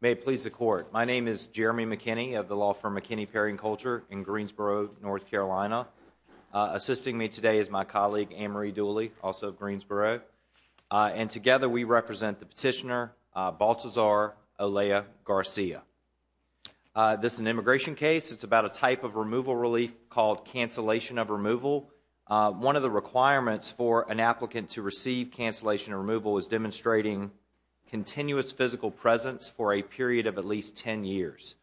May it please the court. My name is Jeremy McKinney of the law firm McKinney Perry and Culture in Greensboro, North Carolina. Assisting me today is my colleague Anne-Marie Dooley, also of Greensboro, and together we represent the petitioner Baltazar Olea Garcia. This is an immigration case. It's about a type of removal relief called cancellation of removal. One of the requirements for an applicant to receive cancellation of removal is demonstrating continuous physical presence for a period of at least 10 years.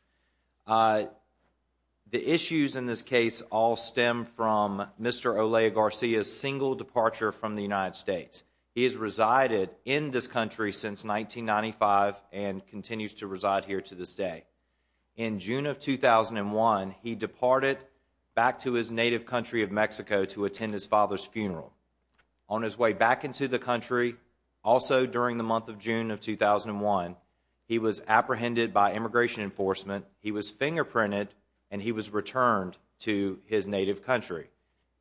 The issues in this case all stem from Mr. Olea Garcia's single departure from the United States. He has resided in this country since 1995 and continues to reside here to this day. In June of 2001, he departed back to his native country of Mexico to attend his father's funeral. On his way back into the country, also during the month of 2001, he was apprehended by immigration enforcement, he was fingerprinted, and he was returned to his native country.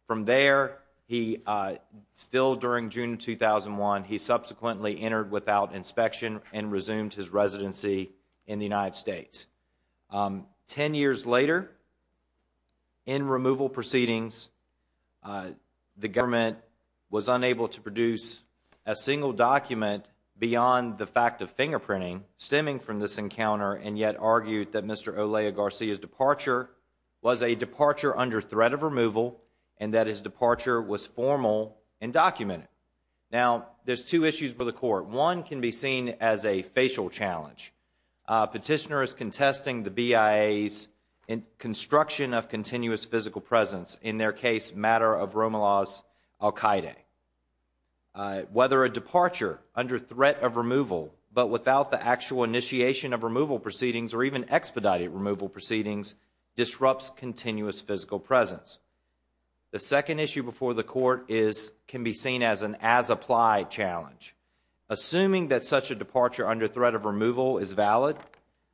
From there, still during June 2001, he subsequently entered without inspection and resumed his residency in the United States. Ten years later, in removal proceedings, the government was unable to fingerprinting stemming from this encounter and yet argued that Mr. Olea Garcia's departure was a departure under threat of removal and that his departure was formal and documented. Now, there's two issues for the court. One can be seen as a facial challenge. Petitioner is contesting the BIA's construction of continuous physical presence, in their case, matter of Roma Law's al-Qaeda. Whether a departure under threat of removal but without the actual initiation of removal proceedings or even expedited removal proceedings disrupts continuous physical presence. The second issue before the court is can be seen as an as-applied challenge. Assuming that such a departure under threat of removal is valid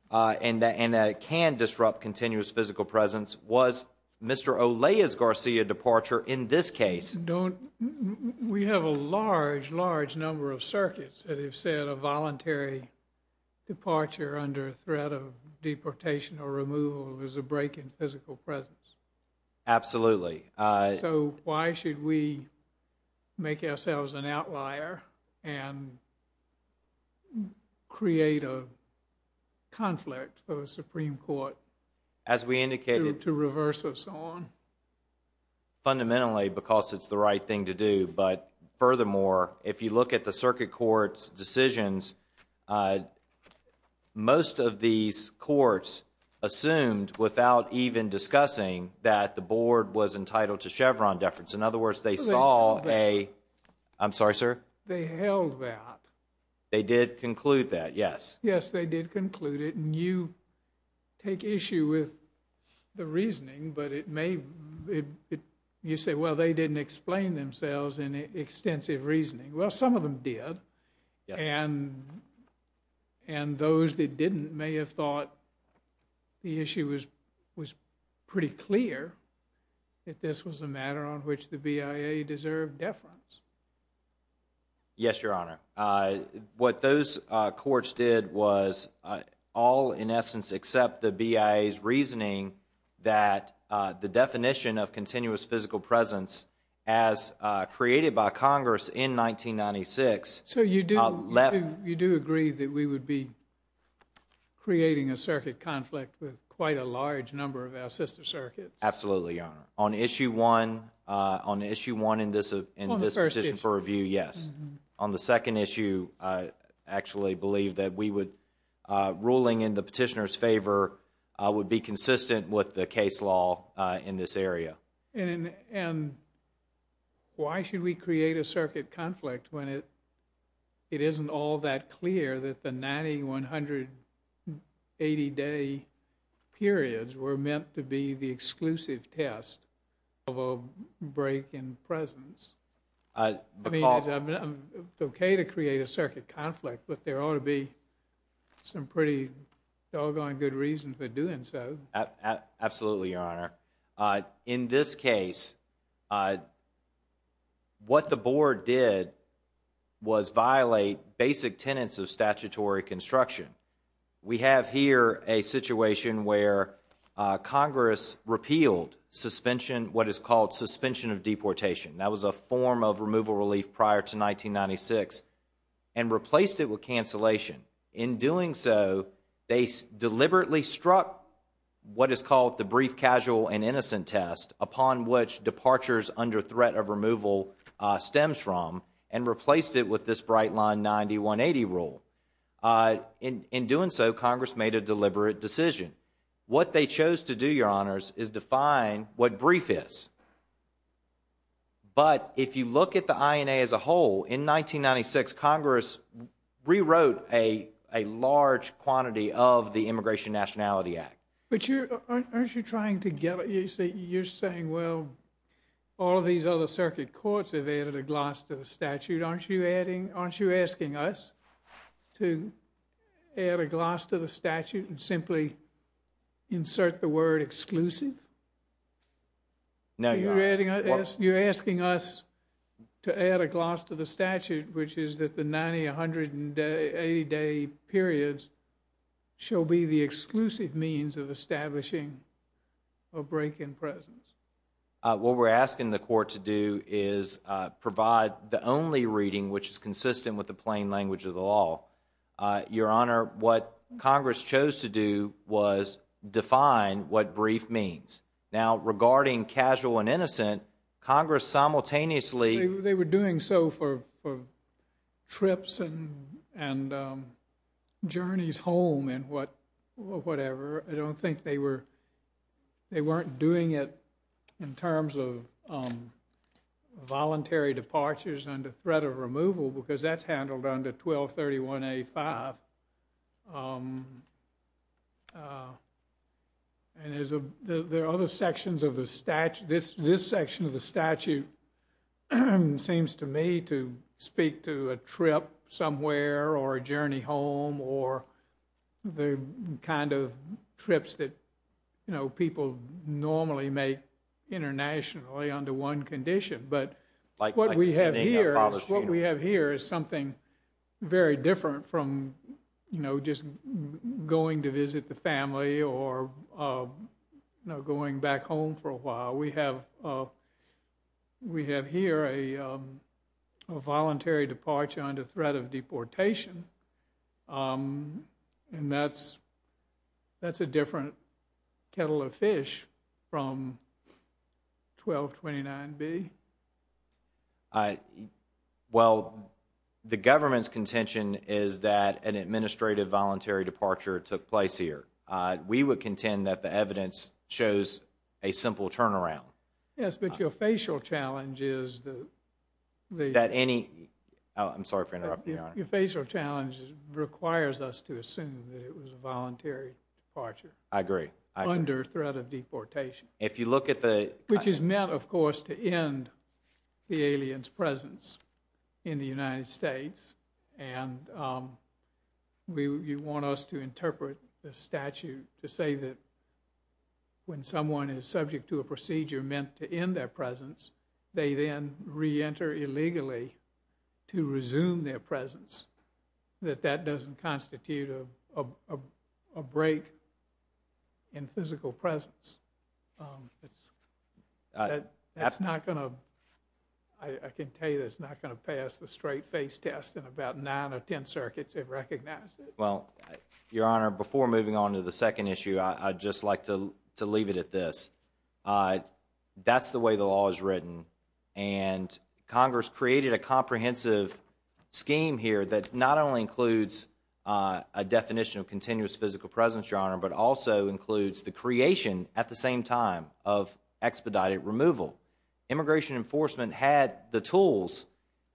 and that it can disrupt continuous physical presence, was Mr. Olea's Garcia departure in this case? Don't we have a large, large number of circuits that have said a voluntary departure under a threat of deportation or removal is a break in physical presence. Absolutely. So why should we make ourselves an outlier and create a conflict for the Supreme Court as we indicated to reverse us on? Fundamentally because it's the right thing to do. But furthermore, if you look at the circuit courts decisions, most of these courts assumed without even discussing that the board was entitled to Chevron deference. In other words, they saw a... I'm sorry, sir? They held that. They did conclude that, yes. Yes, they did conclude it and you take issue with the reasoning but it may... you say, well, they didn't explain themselves in extensive reasoning. Well, some of them did and those that didn't may have thought the issue was pretty clear that this was a matter on which the BIA deserved deference. Yes, Your Honor. What those courts did was all, in essence, accept the BIA's reasoning that the definition of continuous physical presence as created by Congress in 1996... So you do... you do agree that we would be creating a circuit conflict with quite a large number of our sister circuits? Absolutely, Your Honor. On issue one in this position for review, yes. On the second issue, I actually believe that we would... ruling in the petitioner's favor would be consistent with the case law in this area. And why should we create a circuit conflict when it... it isn't all that clear that the 9,180 day periods were meant to be the presence? I mean, it's okay to create a circuit conflict but there ought to be some pretty doggone good reason for doing so. Absolutely, Your Honor. In this case, what the board did was violate basic tenets of statutory construction. We have here a situation where Congress repealed suspension... what is called suspension of deportation. That was a form of removal relief prior to 1996 and replaced it with cancellation. In doing so, they deliberately struck what is called the brief, casual, and innocent test upon which departures under threat of removal stems from and replaced it with this bright line 9,180 rule. In doing so, Congress made a deliberate decision. What they chose to do, Your Honor, but if you look at the INA as a whole, in 1996 Congress rewrote a large quantity of the Immigration Nationality Act. But you're... aren't you trying to get... you're saying, well, all of these other circuit courts have added a gloss to the statute. Aren't you adding... aren't you asking us to add a gloss to the statute and simply insert the word exclusive? No, Your Honor. You're asking us to add a gloss to the statute which is that the 90, 100, and 80 day periods shall be the exclusive means of establishing a break-in presence. What we're asking the court to do is provide the only reading which is consistent with the plain language of the law. Your to do was define what brief means. Now, regarding casual and innocent, Congress simultaneously... They were doing so for trips and journeys home and what... whatever. I don't think they were... they weren't doing it in terms of voluntary and there's a... there are other sections of the statute. This section of the statute seems to me to speak to a trip somewhere or a journey home or the kind of trips that, you know, people normally make internationally under one condition. But what we have here is something very different from, you know, just going to visit the family or, you know, going back home for a while. We have... we have here a voluntary departure under threat of deportation and that's... that's a different kettle of fish from 1229B. I... well, the government's contention is that an administrative voluntary departure took place here. We would contend that the evidence shows a simple turnaround. Yes, but your facial challenge is the... that any... I'm sorry for interrupting, Your Honor. Your facial challenge requires us to assume that it was a voluntary departure. I agree. Under threat of deportation. If you look at the... Which is meant, of course, to end the alien's presence in the United States and we... you want us to interpret the statute to say that when someone is subject to a procedure meant to end their presence, they then re-enter illegally to resume their presence, that that doesn't constitute of a break in physical presence. That's not going to... I can tell you that's not going to pass the straight-face test and about nine or ten circuits have recognized it. Well, Your Honor, before moving on to the second issue, I'd just like to leave it at this. That's the way the law is written and Congress created a comprehensive scheme here that not only includes a definition of continuous physical presence, Your Honor, but also includes the creation at the same time of expedited removal. Immigration Enforcement had the tools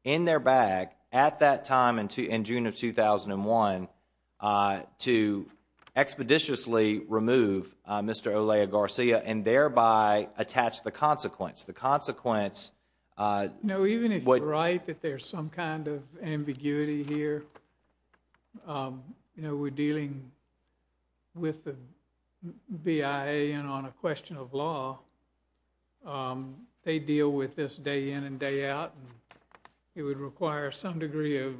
in their bag at that time in June of 2001 to expeditiously remove Mr. Olea Garcia and thereby attach the consequence. The consequence... No, even if you're right that there's some kind of ambiguity here, you know, we're dealing with the BIA and on a question of law. They deal with this day in and day out. It would require some degree of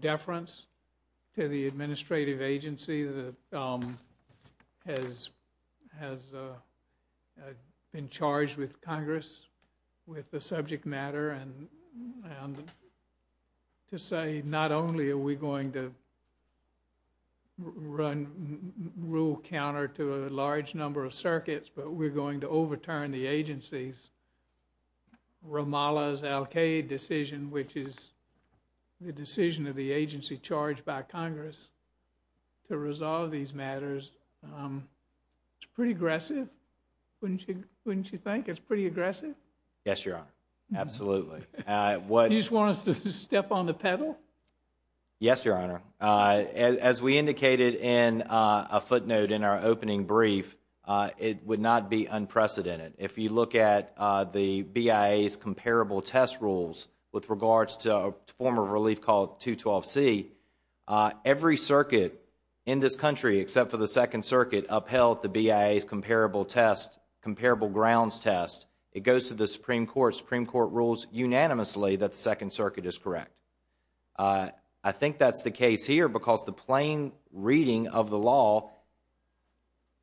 deference to the administrative agency that has been charged with Congress with the subject matter and to say, not only are we going to run rule counter to a large number of circuits, but we're going to overturn the agency's Ramallah's the agency charged by Congress to resolve these matters. It's pretty aggressive, wouldn't you think? It's pretty aggressive? Yes, Your Honor. Absolutely. You just want us to step on the pedal? Yes, Your Honor. As we indicated in a footnote in our opening brief, it would not be unprecedented. If you look at the BIA's comparable test rules with regards to a form of relief called 212C, every circuit in this country except for the Second Circuit upheld the BIA's comparable test, comparable grounds test. It goes to the Supreme Court. Supreme Court rules unanimously that the Second Circuit is correct. I think that's the case here because the plain reading of the law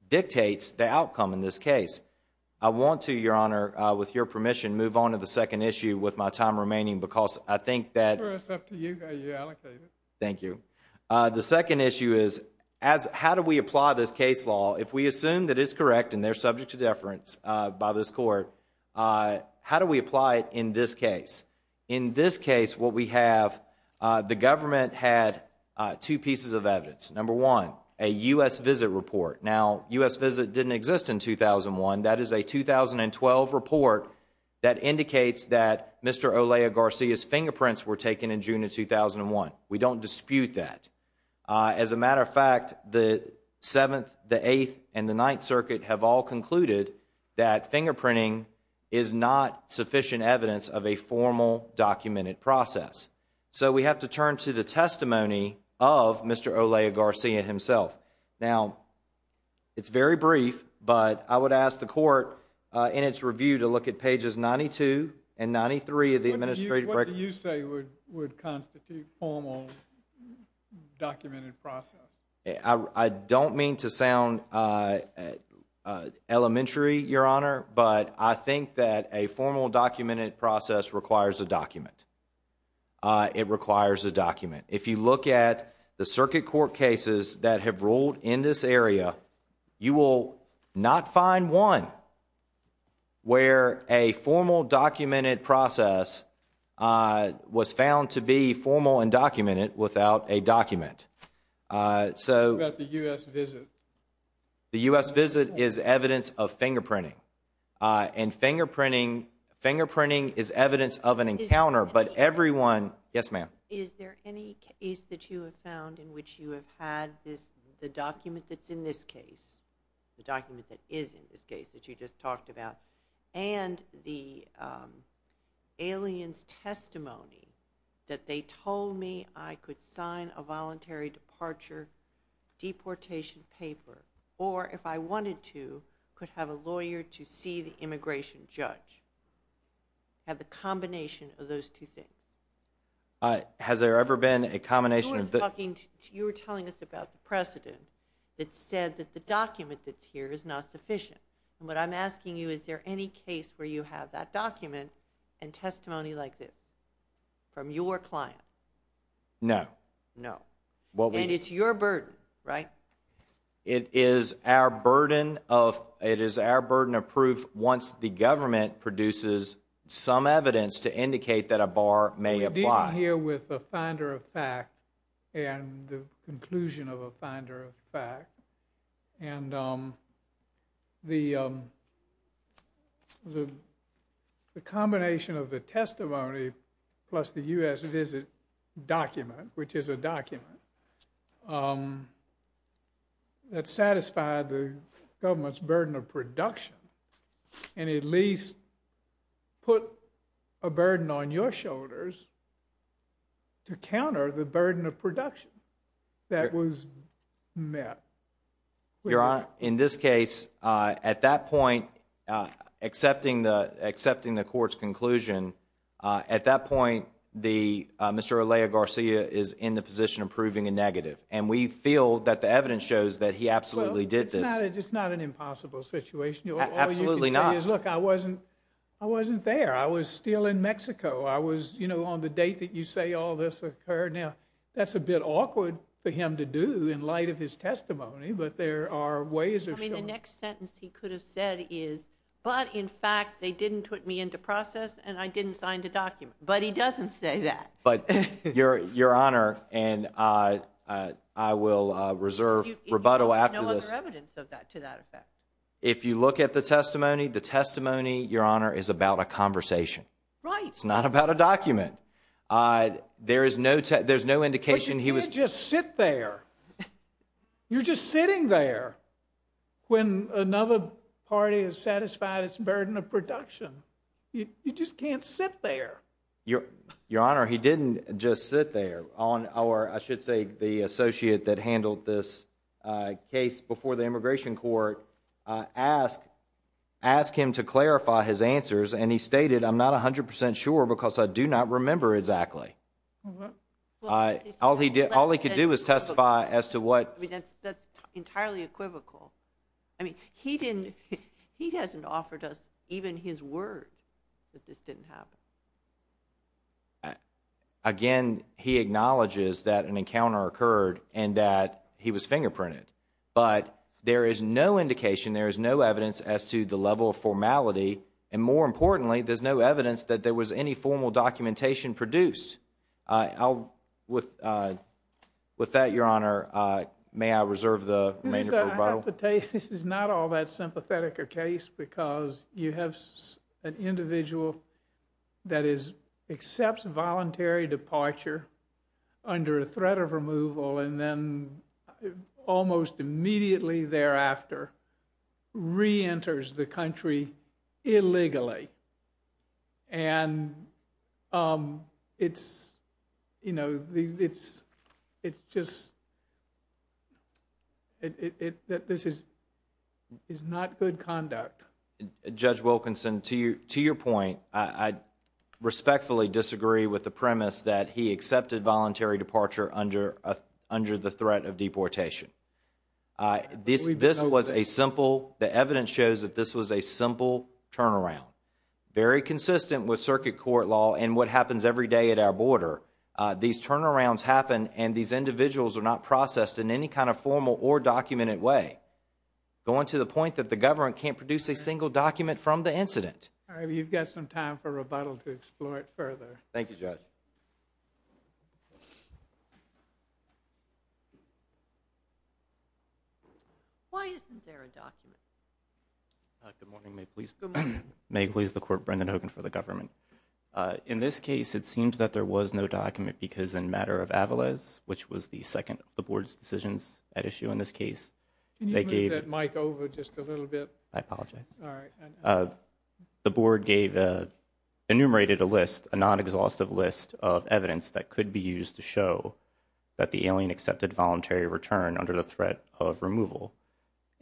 dictates the outcome in this case. I want to, Your Honor, with your permission, move on to the second issue with my time remaining because I think that, thank you, the second issue is how do we apply this case law if we assume that it's correct and they're subject to deference by this court? How do we apply it in this case? In this case, what we have, the government had two pieces of evidence. Number one, a U.S. visit report. Now, U.S. visit didn't exist in 2001. That is a 2012 report that indicates that Mr. Olea Garcia's fingerprints were taken in June of 2001. We don't dispute that. As a matter of fact, the Seventh, the Eighth, and the Ninth Circuit have all concluded that fingerprinting is not sufficient evidence of a formal documented process. So we have to turn to the testimony of Mr. Olea Garcia himself. Now, it's very brief, but I would ask the court in its review to look at pages 92 and 93 of the administrative record. What do you say would would constitute formal documented process? I don't mean to sound, uh, elementary, Your Honor, but I think that a formal documented process requires a court case that has ruled in this area. You will not find one where a formal documented process was found to be formal and documented without a document. So the U.S. visit is evidence of fingerprinting and fingerprinting. Fingerprinting is evidence of an encounter, but everyone, yes ma'am? Is there any case that you have found in which you have had this, the document that's in this case, the document that is in this case that you just talked about, and the alien's testimony that they told me I could sign a voluntary departure deportation paper, or if I wanted to, could have a lawyer to see the immigration judge? Have a combination of those two things. Has there ever been a combination? You were talking, you were telling us about the precedent that said that the document that's here is not sufficient, and what I'm asking you, is there any case where you have that document and testimony like this from your client? No. No. And it's your burden, right? It is our burden of, it is our burden of proof once the government produces some evidence to indicate that a bar may apply. We're dealing here with a finder of fact, and the conclusion of a finder of fact, and the combination of the testimony plus the U.S. visit document, which is a document, that satisfied the government's burden of production, and at least put a burden on your shoulders to counter the burden of production that was met. Your Honor, in this case, at that point, accepting the, accepting the court's conclusion, at that point, the, Mr. Alea Garcia is in the position of proving a negative, and we feel that the evidence shows that he absolutely did this. It's not an impossible situation. Absolutely not. Look, I wasn't, I wasn't there. I was still in Mexico. I was, you know, on the date that you say all this occurred. Now, that's a bit awkward for him to do in light of his testimony, but there are ways. I mean, the next sentence he could have said is, but in fact, they didn't put me into process, and I didn't sign the document, but he doesn't say that. Your Honor, and I will reserve rebuttal after this. No other evidence of that to that effect. If you look at the testimony, the testimony, Your Honor, is about a conversation. Right. It's not about a document. There is no, there's no indication he was. But you didn't just sit there. You're just sitting there when another party has satisfied its burden of production. You just can't sit there. Your Honor, he didn't just sit there on our, I should say, the associate that handled this case before the immigration court, asked him to clarify his answers, and he stated, I'm not 100% sure because I do not remember exactly. All he did, all he could do is testify as to what. That's entirely equivocal. I mean, he didn't, he hasn't offered us even his word that this didn't happen. Again, he acknowledges that an encounter occurred and that he was fingerprinted, but there is no indication, there is no evidence as to the level of formality, and more importantly, there's no evidence that there was any formal documentation produced. I'll, with that, Your Honor, may I reserve the remainder for rebuttal? I have to tell you, this is not all that sympathetic a case because you have an individual that accepts voluntary departure under a threat of removal and then almost immediately thereafter reenters the country illegally, and it's, you know, it's just, this is not good conduct. Judge Wilkinson, to your point, I respectfully disagree with the threat of deportation. This was a simple, the evidence shows that this was a simple turnaround, very consistent with circuit court law and what happens every day at our border. These turnarounds happen and these individuals are not processed in any kind of formal or documented way, going to the point that the government can't produce a single document from the incident. All right, you've got some time for rebuttal to explore it further. Thank you, Judge. Why isn't there a document? Good morning, may it please the Court, Brendan Hogan for the government. In this case, it seems that there was no document because in matter of Avales, which was the second of the Board's decisions at issue in this case, they gave... Can you move that mic over just a little bit? I apologize. All right. The Board gave, enumerated a list, a non-exhaustive list of evidence that the alien accepted voluntary return under the threat of removal.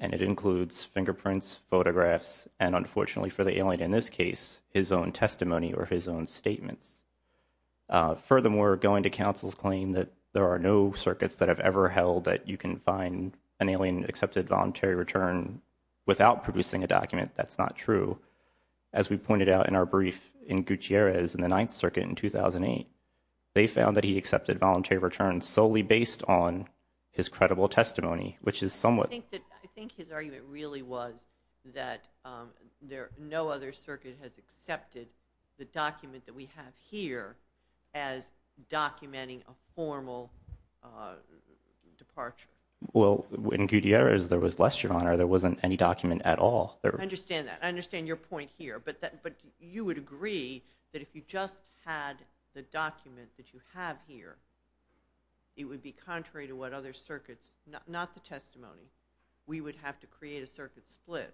And it includes fingerprints, photographs, and unfortunately for the alien in this case, his own testimony or his own statements. Furthermore, going to counsel's claim that there are no circuits that have ever held that you can find an alien accepted voluntary return without producing a document, that's not true. As we pointed out in our brief in Gutierrez in the Ninth Circuit in 2008, they found that he on his credible testimony, which is somewhat... I think his argument really was that no other circuit has accepted the document that we have here as documenting a formal departure. Well, in Gutierrez, there was less, Your Honor. There wasn't any document at all. I understand that. I understand your point here, but you would agree that if you just had the contrary to what other circuits, not the testimony, we would have to create a circuit split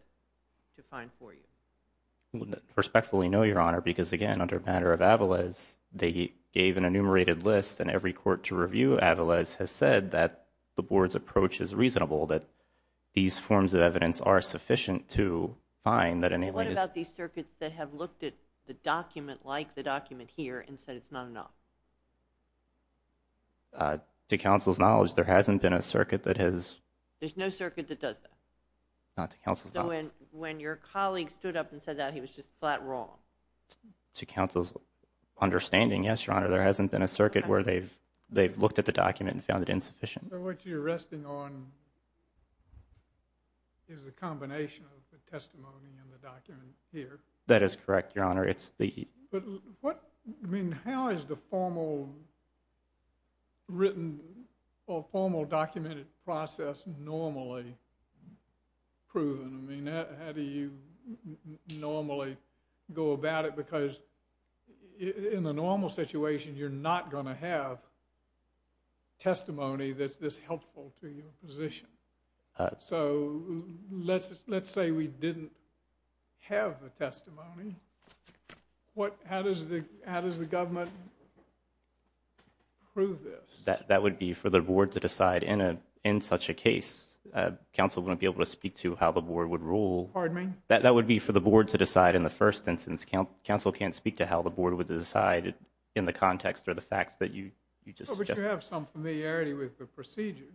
to find for you. I respectfully know, Your Honor, because again, under a matter of Avales, they gave an enumerated list and every court to review Avales has said that the Board's approach is reasonable, that these forms of evidence are sufficient to find that an alien... What about these circuits that have looked at the document like the document here and said it's not enough? To counsel's knowledge, there hasn't been a circuit that has... There's no circuit that does that? Not to counsel's knowledge. When your colleague stood up and said that, he was just flat wrong. To counsel's understanding, yes, Your Honor, there hasn't been a circuit where they've looked at the document and found it insufficient. So what you're resting on is the combination of the testimony and the document here. That is correct, Your Honor. It's the... But what... I mean, how is the formal written or formal documented process normally proven? I mean, how do you normally go about it? Because in a normal situation, you're not going to have testimony that's this helpful to your position. So let's say we didn't have a testimony. How does the government prove this? That would be for the board to decide. In such a case, counsel wouldn't be able to speak to how the board would rule. Pardon me? That would be for the board to decide. In the first instance, counsel can't speak to how the board would decide in the context or the facts that you just suggested. But you have some familiarity with the procedure.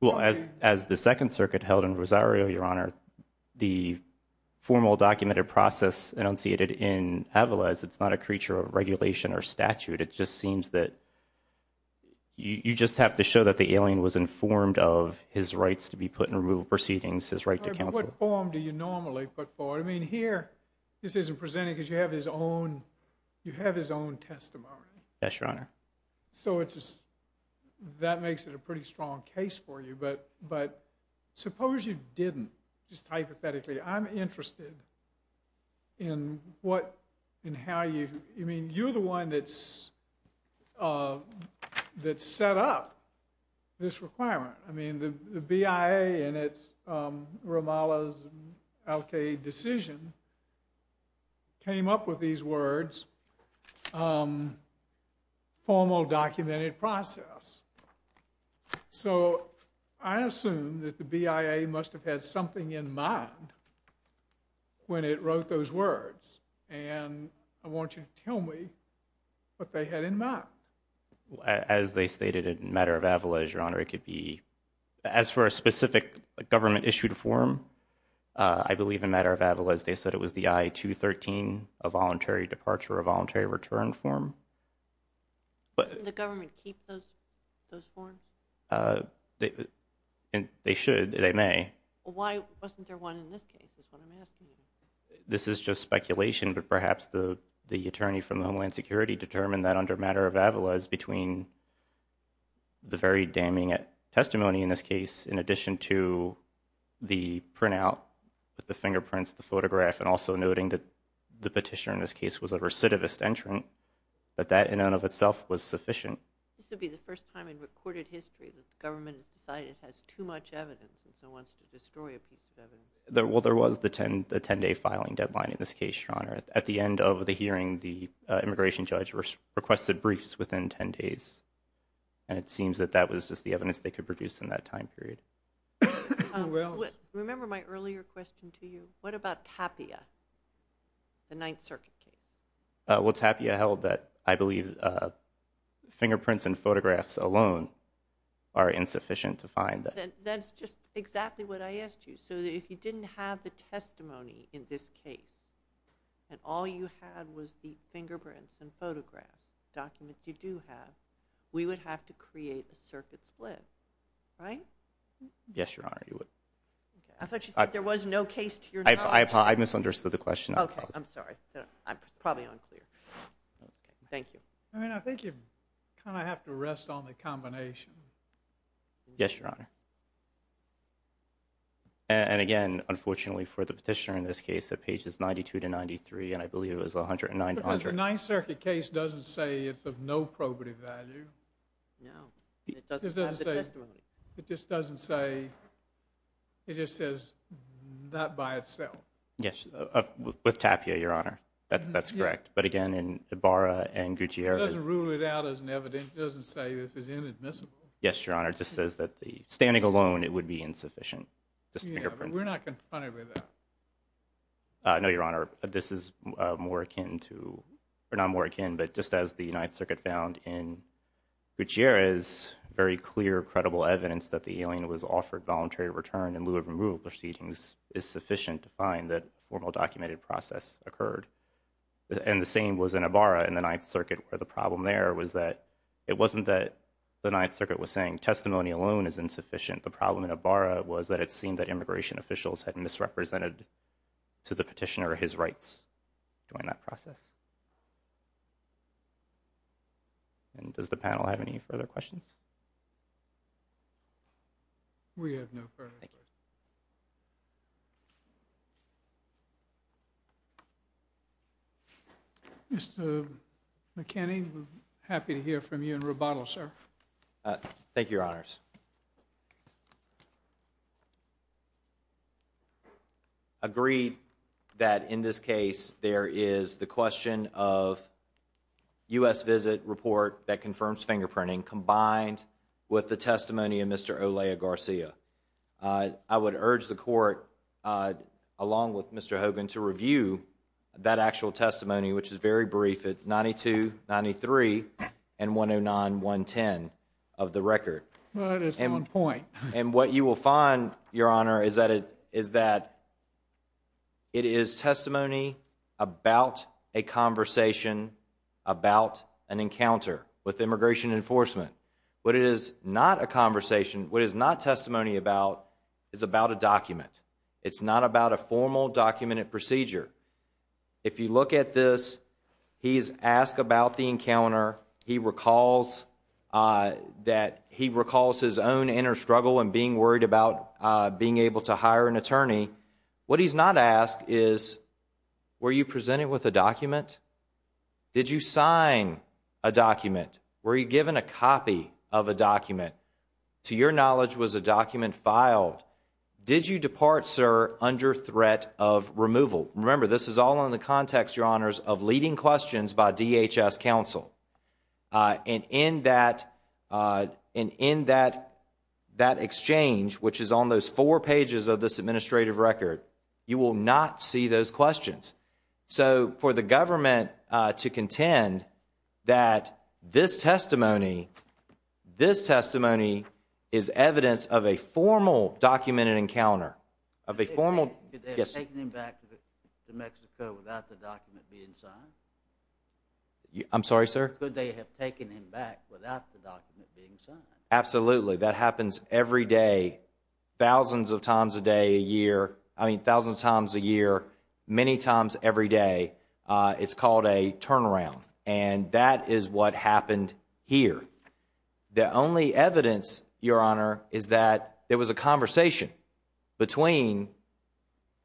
Well, as the Second Circuit held in Rosario, Your Honor, the formal documented process in Avala is it's not a creature of regulation or statute. It just seems that you just have to show that the alien was informed of his rights to be put in removal proceedings, his right to counsel. What form do you normally put forward? I mean, here, this isn't presented because you have his own testimony. Yes, Your Honor. So that makes it a pretty strong case for you. But suppose you didn't, just hypothetically. I'm interested in how you, I mean, you're the one that set up this requirement. I mean, the BIA in its Ramallah's Al-Qaeda decision came up with these words, formal documented process. So I assume that the BIA must have had something in mind when it wrote those words. And I want you to tell me what they had in mind. As they stated in matter of Avala, Your Honor, it could be, as for a specific government issued form, I believe in matter of Avala, they said it was the I-213, a voluntary departure or voluntary return form. Doesn't the government keep those forms? And they should, they may. Why wasn't there one in this case is what I'm asking. This is just speculation, but perhaps the attorney from the Homeland Security determined that under matter of Avala is between the very damning testimony in this case, in addition to the printout with the fingerprints, the photograph, and also noting that the petitioner in this case was a recidivist entrant. But that in and of itself was sufficient. This would be the first time in recorded history that the government has decided it has too much evidence and so wants to destroy a piece of evidence. Well, there was the 10-day filing deadline in this case, Your Honor. At the end of the hearing, the immigration judge requested briefs within 10 days. And it seems that that was just the evidence they could produce in that time period. Remember my earlier question to you? What about Tapia, the Ninth Circuit case? Well, Tapia held that I believe fingerprints and photographs alone are insufficient to find. That's just exactly what I asked you. So if you didn't have the testimony in this case, and all you had was the fingerprints and photographs, documents you do have, we would have to create a circuit split, right? Yes, Your Honor, you would. I thought you said there was no case to your knowledge. I misunderstood the question. I'm sorry. I'm probably unclear. Thank you. I mean, I think you kind of have to rest on the combination. Yes, Your Honor. And again, unfortunately for the petitioner in this case, that page is 92 to 93, and I believe it was 109 to 100. But the Ninth Circuit case doesn't say it's of no probative value. No. It just doesn't say, it just says that by itself. Yes, with Tapia, Your Honor. That's correct. But again, in Ibarra and Gutierrez. It doesn't rule it out as an evidence. It doesn't say this is inadmissible. Yes, Your Honor. It just says that standing alone, it would be insufficient. Just fingerprints. We're not confronted with that. No, Your Honor. This is more akin to, or not more akin, but just as the Ninth Circuit found in Gutierrez, very clear, credible evidence that the alien was offered voluntary return in to find that formal documented process occurred. And the same was in Ibarra and the Ninth Circuit, where the problem there was that it wasn't that the Ninth Circuit was saying testimony alone is insufficient. The problem in Ibarra was that it seemed that immigration officials had misrepresented to the petitioner his rights during that process. And does the panel have any further questions? We have no further questions. Mr. McKinney, we're happy to hear from you in rebuttal, sir. Thank you, Your Honors. Agreed that in this case, there is the question of U.S. visit report that confirms fingerprinting combined with the testimony of Mr. Olea Garcia. I would urge the court, along with Mr. Hogan, to review that actual testimony, which is very brief at 92, 93, and 109, 110 of the record. And what you will find, Your Honor, is that it is testimony about a conversation, about an encounter with immigration enforcement. What it is not a conversation, what it is not testimony about is about a document. It's not about a formal documented procedure. If you look at this, he's asked about the encounter. He recalls that he recalls his own inner struggle in being worried about being able to hire an attorney. What he's not asked is, were you presented with a document? Did you sign a document? Were you given a copy of a document? To your knowledge, was a document filed? Did you depart, sir, under threat of removal? Remember, this is all in the context, Your Honors, of leading questions by DHS counsel. And in that exchange, which is on those four pages of this administrative record, you will not see those questions. So, for the government to contend that this testimony, this testimony is evidence of a formal documented encounter, of a formal... Could they have taken him back to Mexico without the document being signed? I'm sorry, sir? Could they have taken him back without the document being signed? Absolutely. I mean, thousands of times a year, many times every day, it's called a turnaround. And that is what happened here. The only evidence, Your Honor, is that there was a conversation between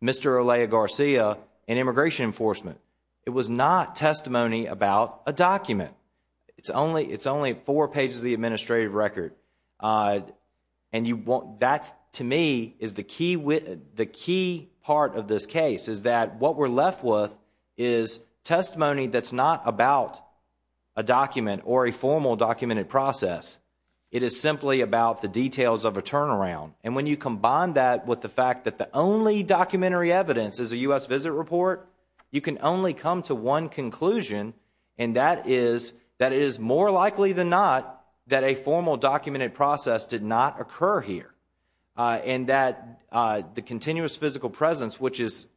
Mr. Elia Garcia and Immigration Enforcement. It was not testimony about a document. It's only four pages of the administrative record. And that, to me, is the key part of this case, is that what we're left with is testimony that's not about a document or a formal documented process. It is simply about the details of a turnaround. And when you combine that with the fact that the only documentary evidence is a U.S. visit report, you can only come to one conclusion, and that is that it is more likely than not that a formal documented process did not occur here. And that the continuous physical presence, which is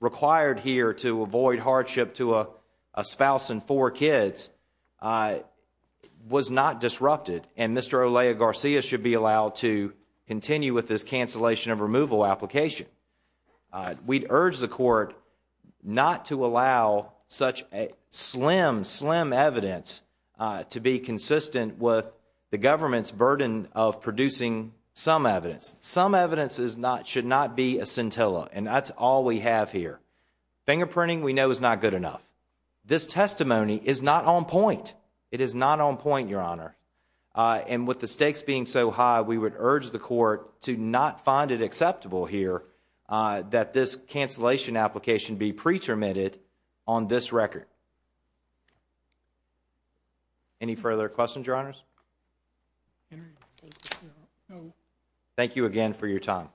required here to avoid hardship to a spouse and four kids, was not disrupted. And Mr. Elia Garcia should be allowed to continue with this cancellation of removal application. We'd urge the court not to allow such a slim, slim evidence to be consistent with the government's burden of producing some evidence. Some evidence should not be a scintilla. And that's all we have here. Fingerprinting, we know, is not good enough. This testimony is not on point. It is not on point, Your Honor. And with the stakes being so high, we would urge the court to not find it acceptable here that this cancellation application be pretermitted on this record. Any further questions, Your Honors? Thank you again for your time.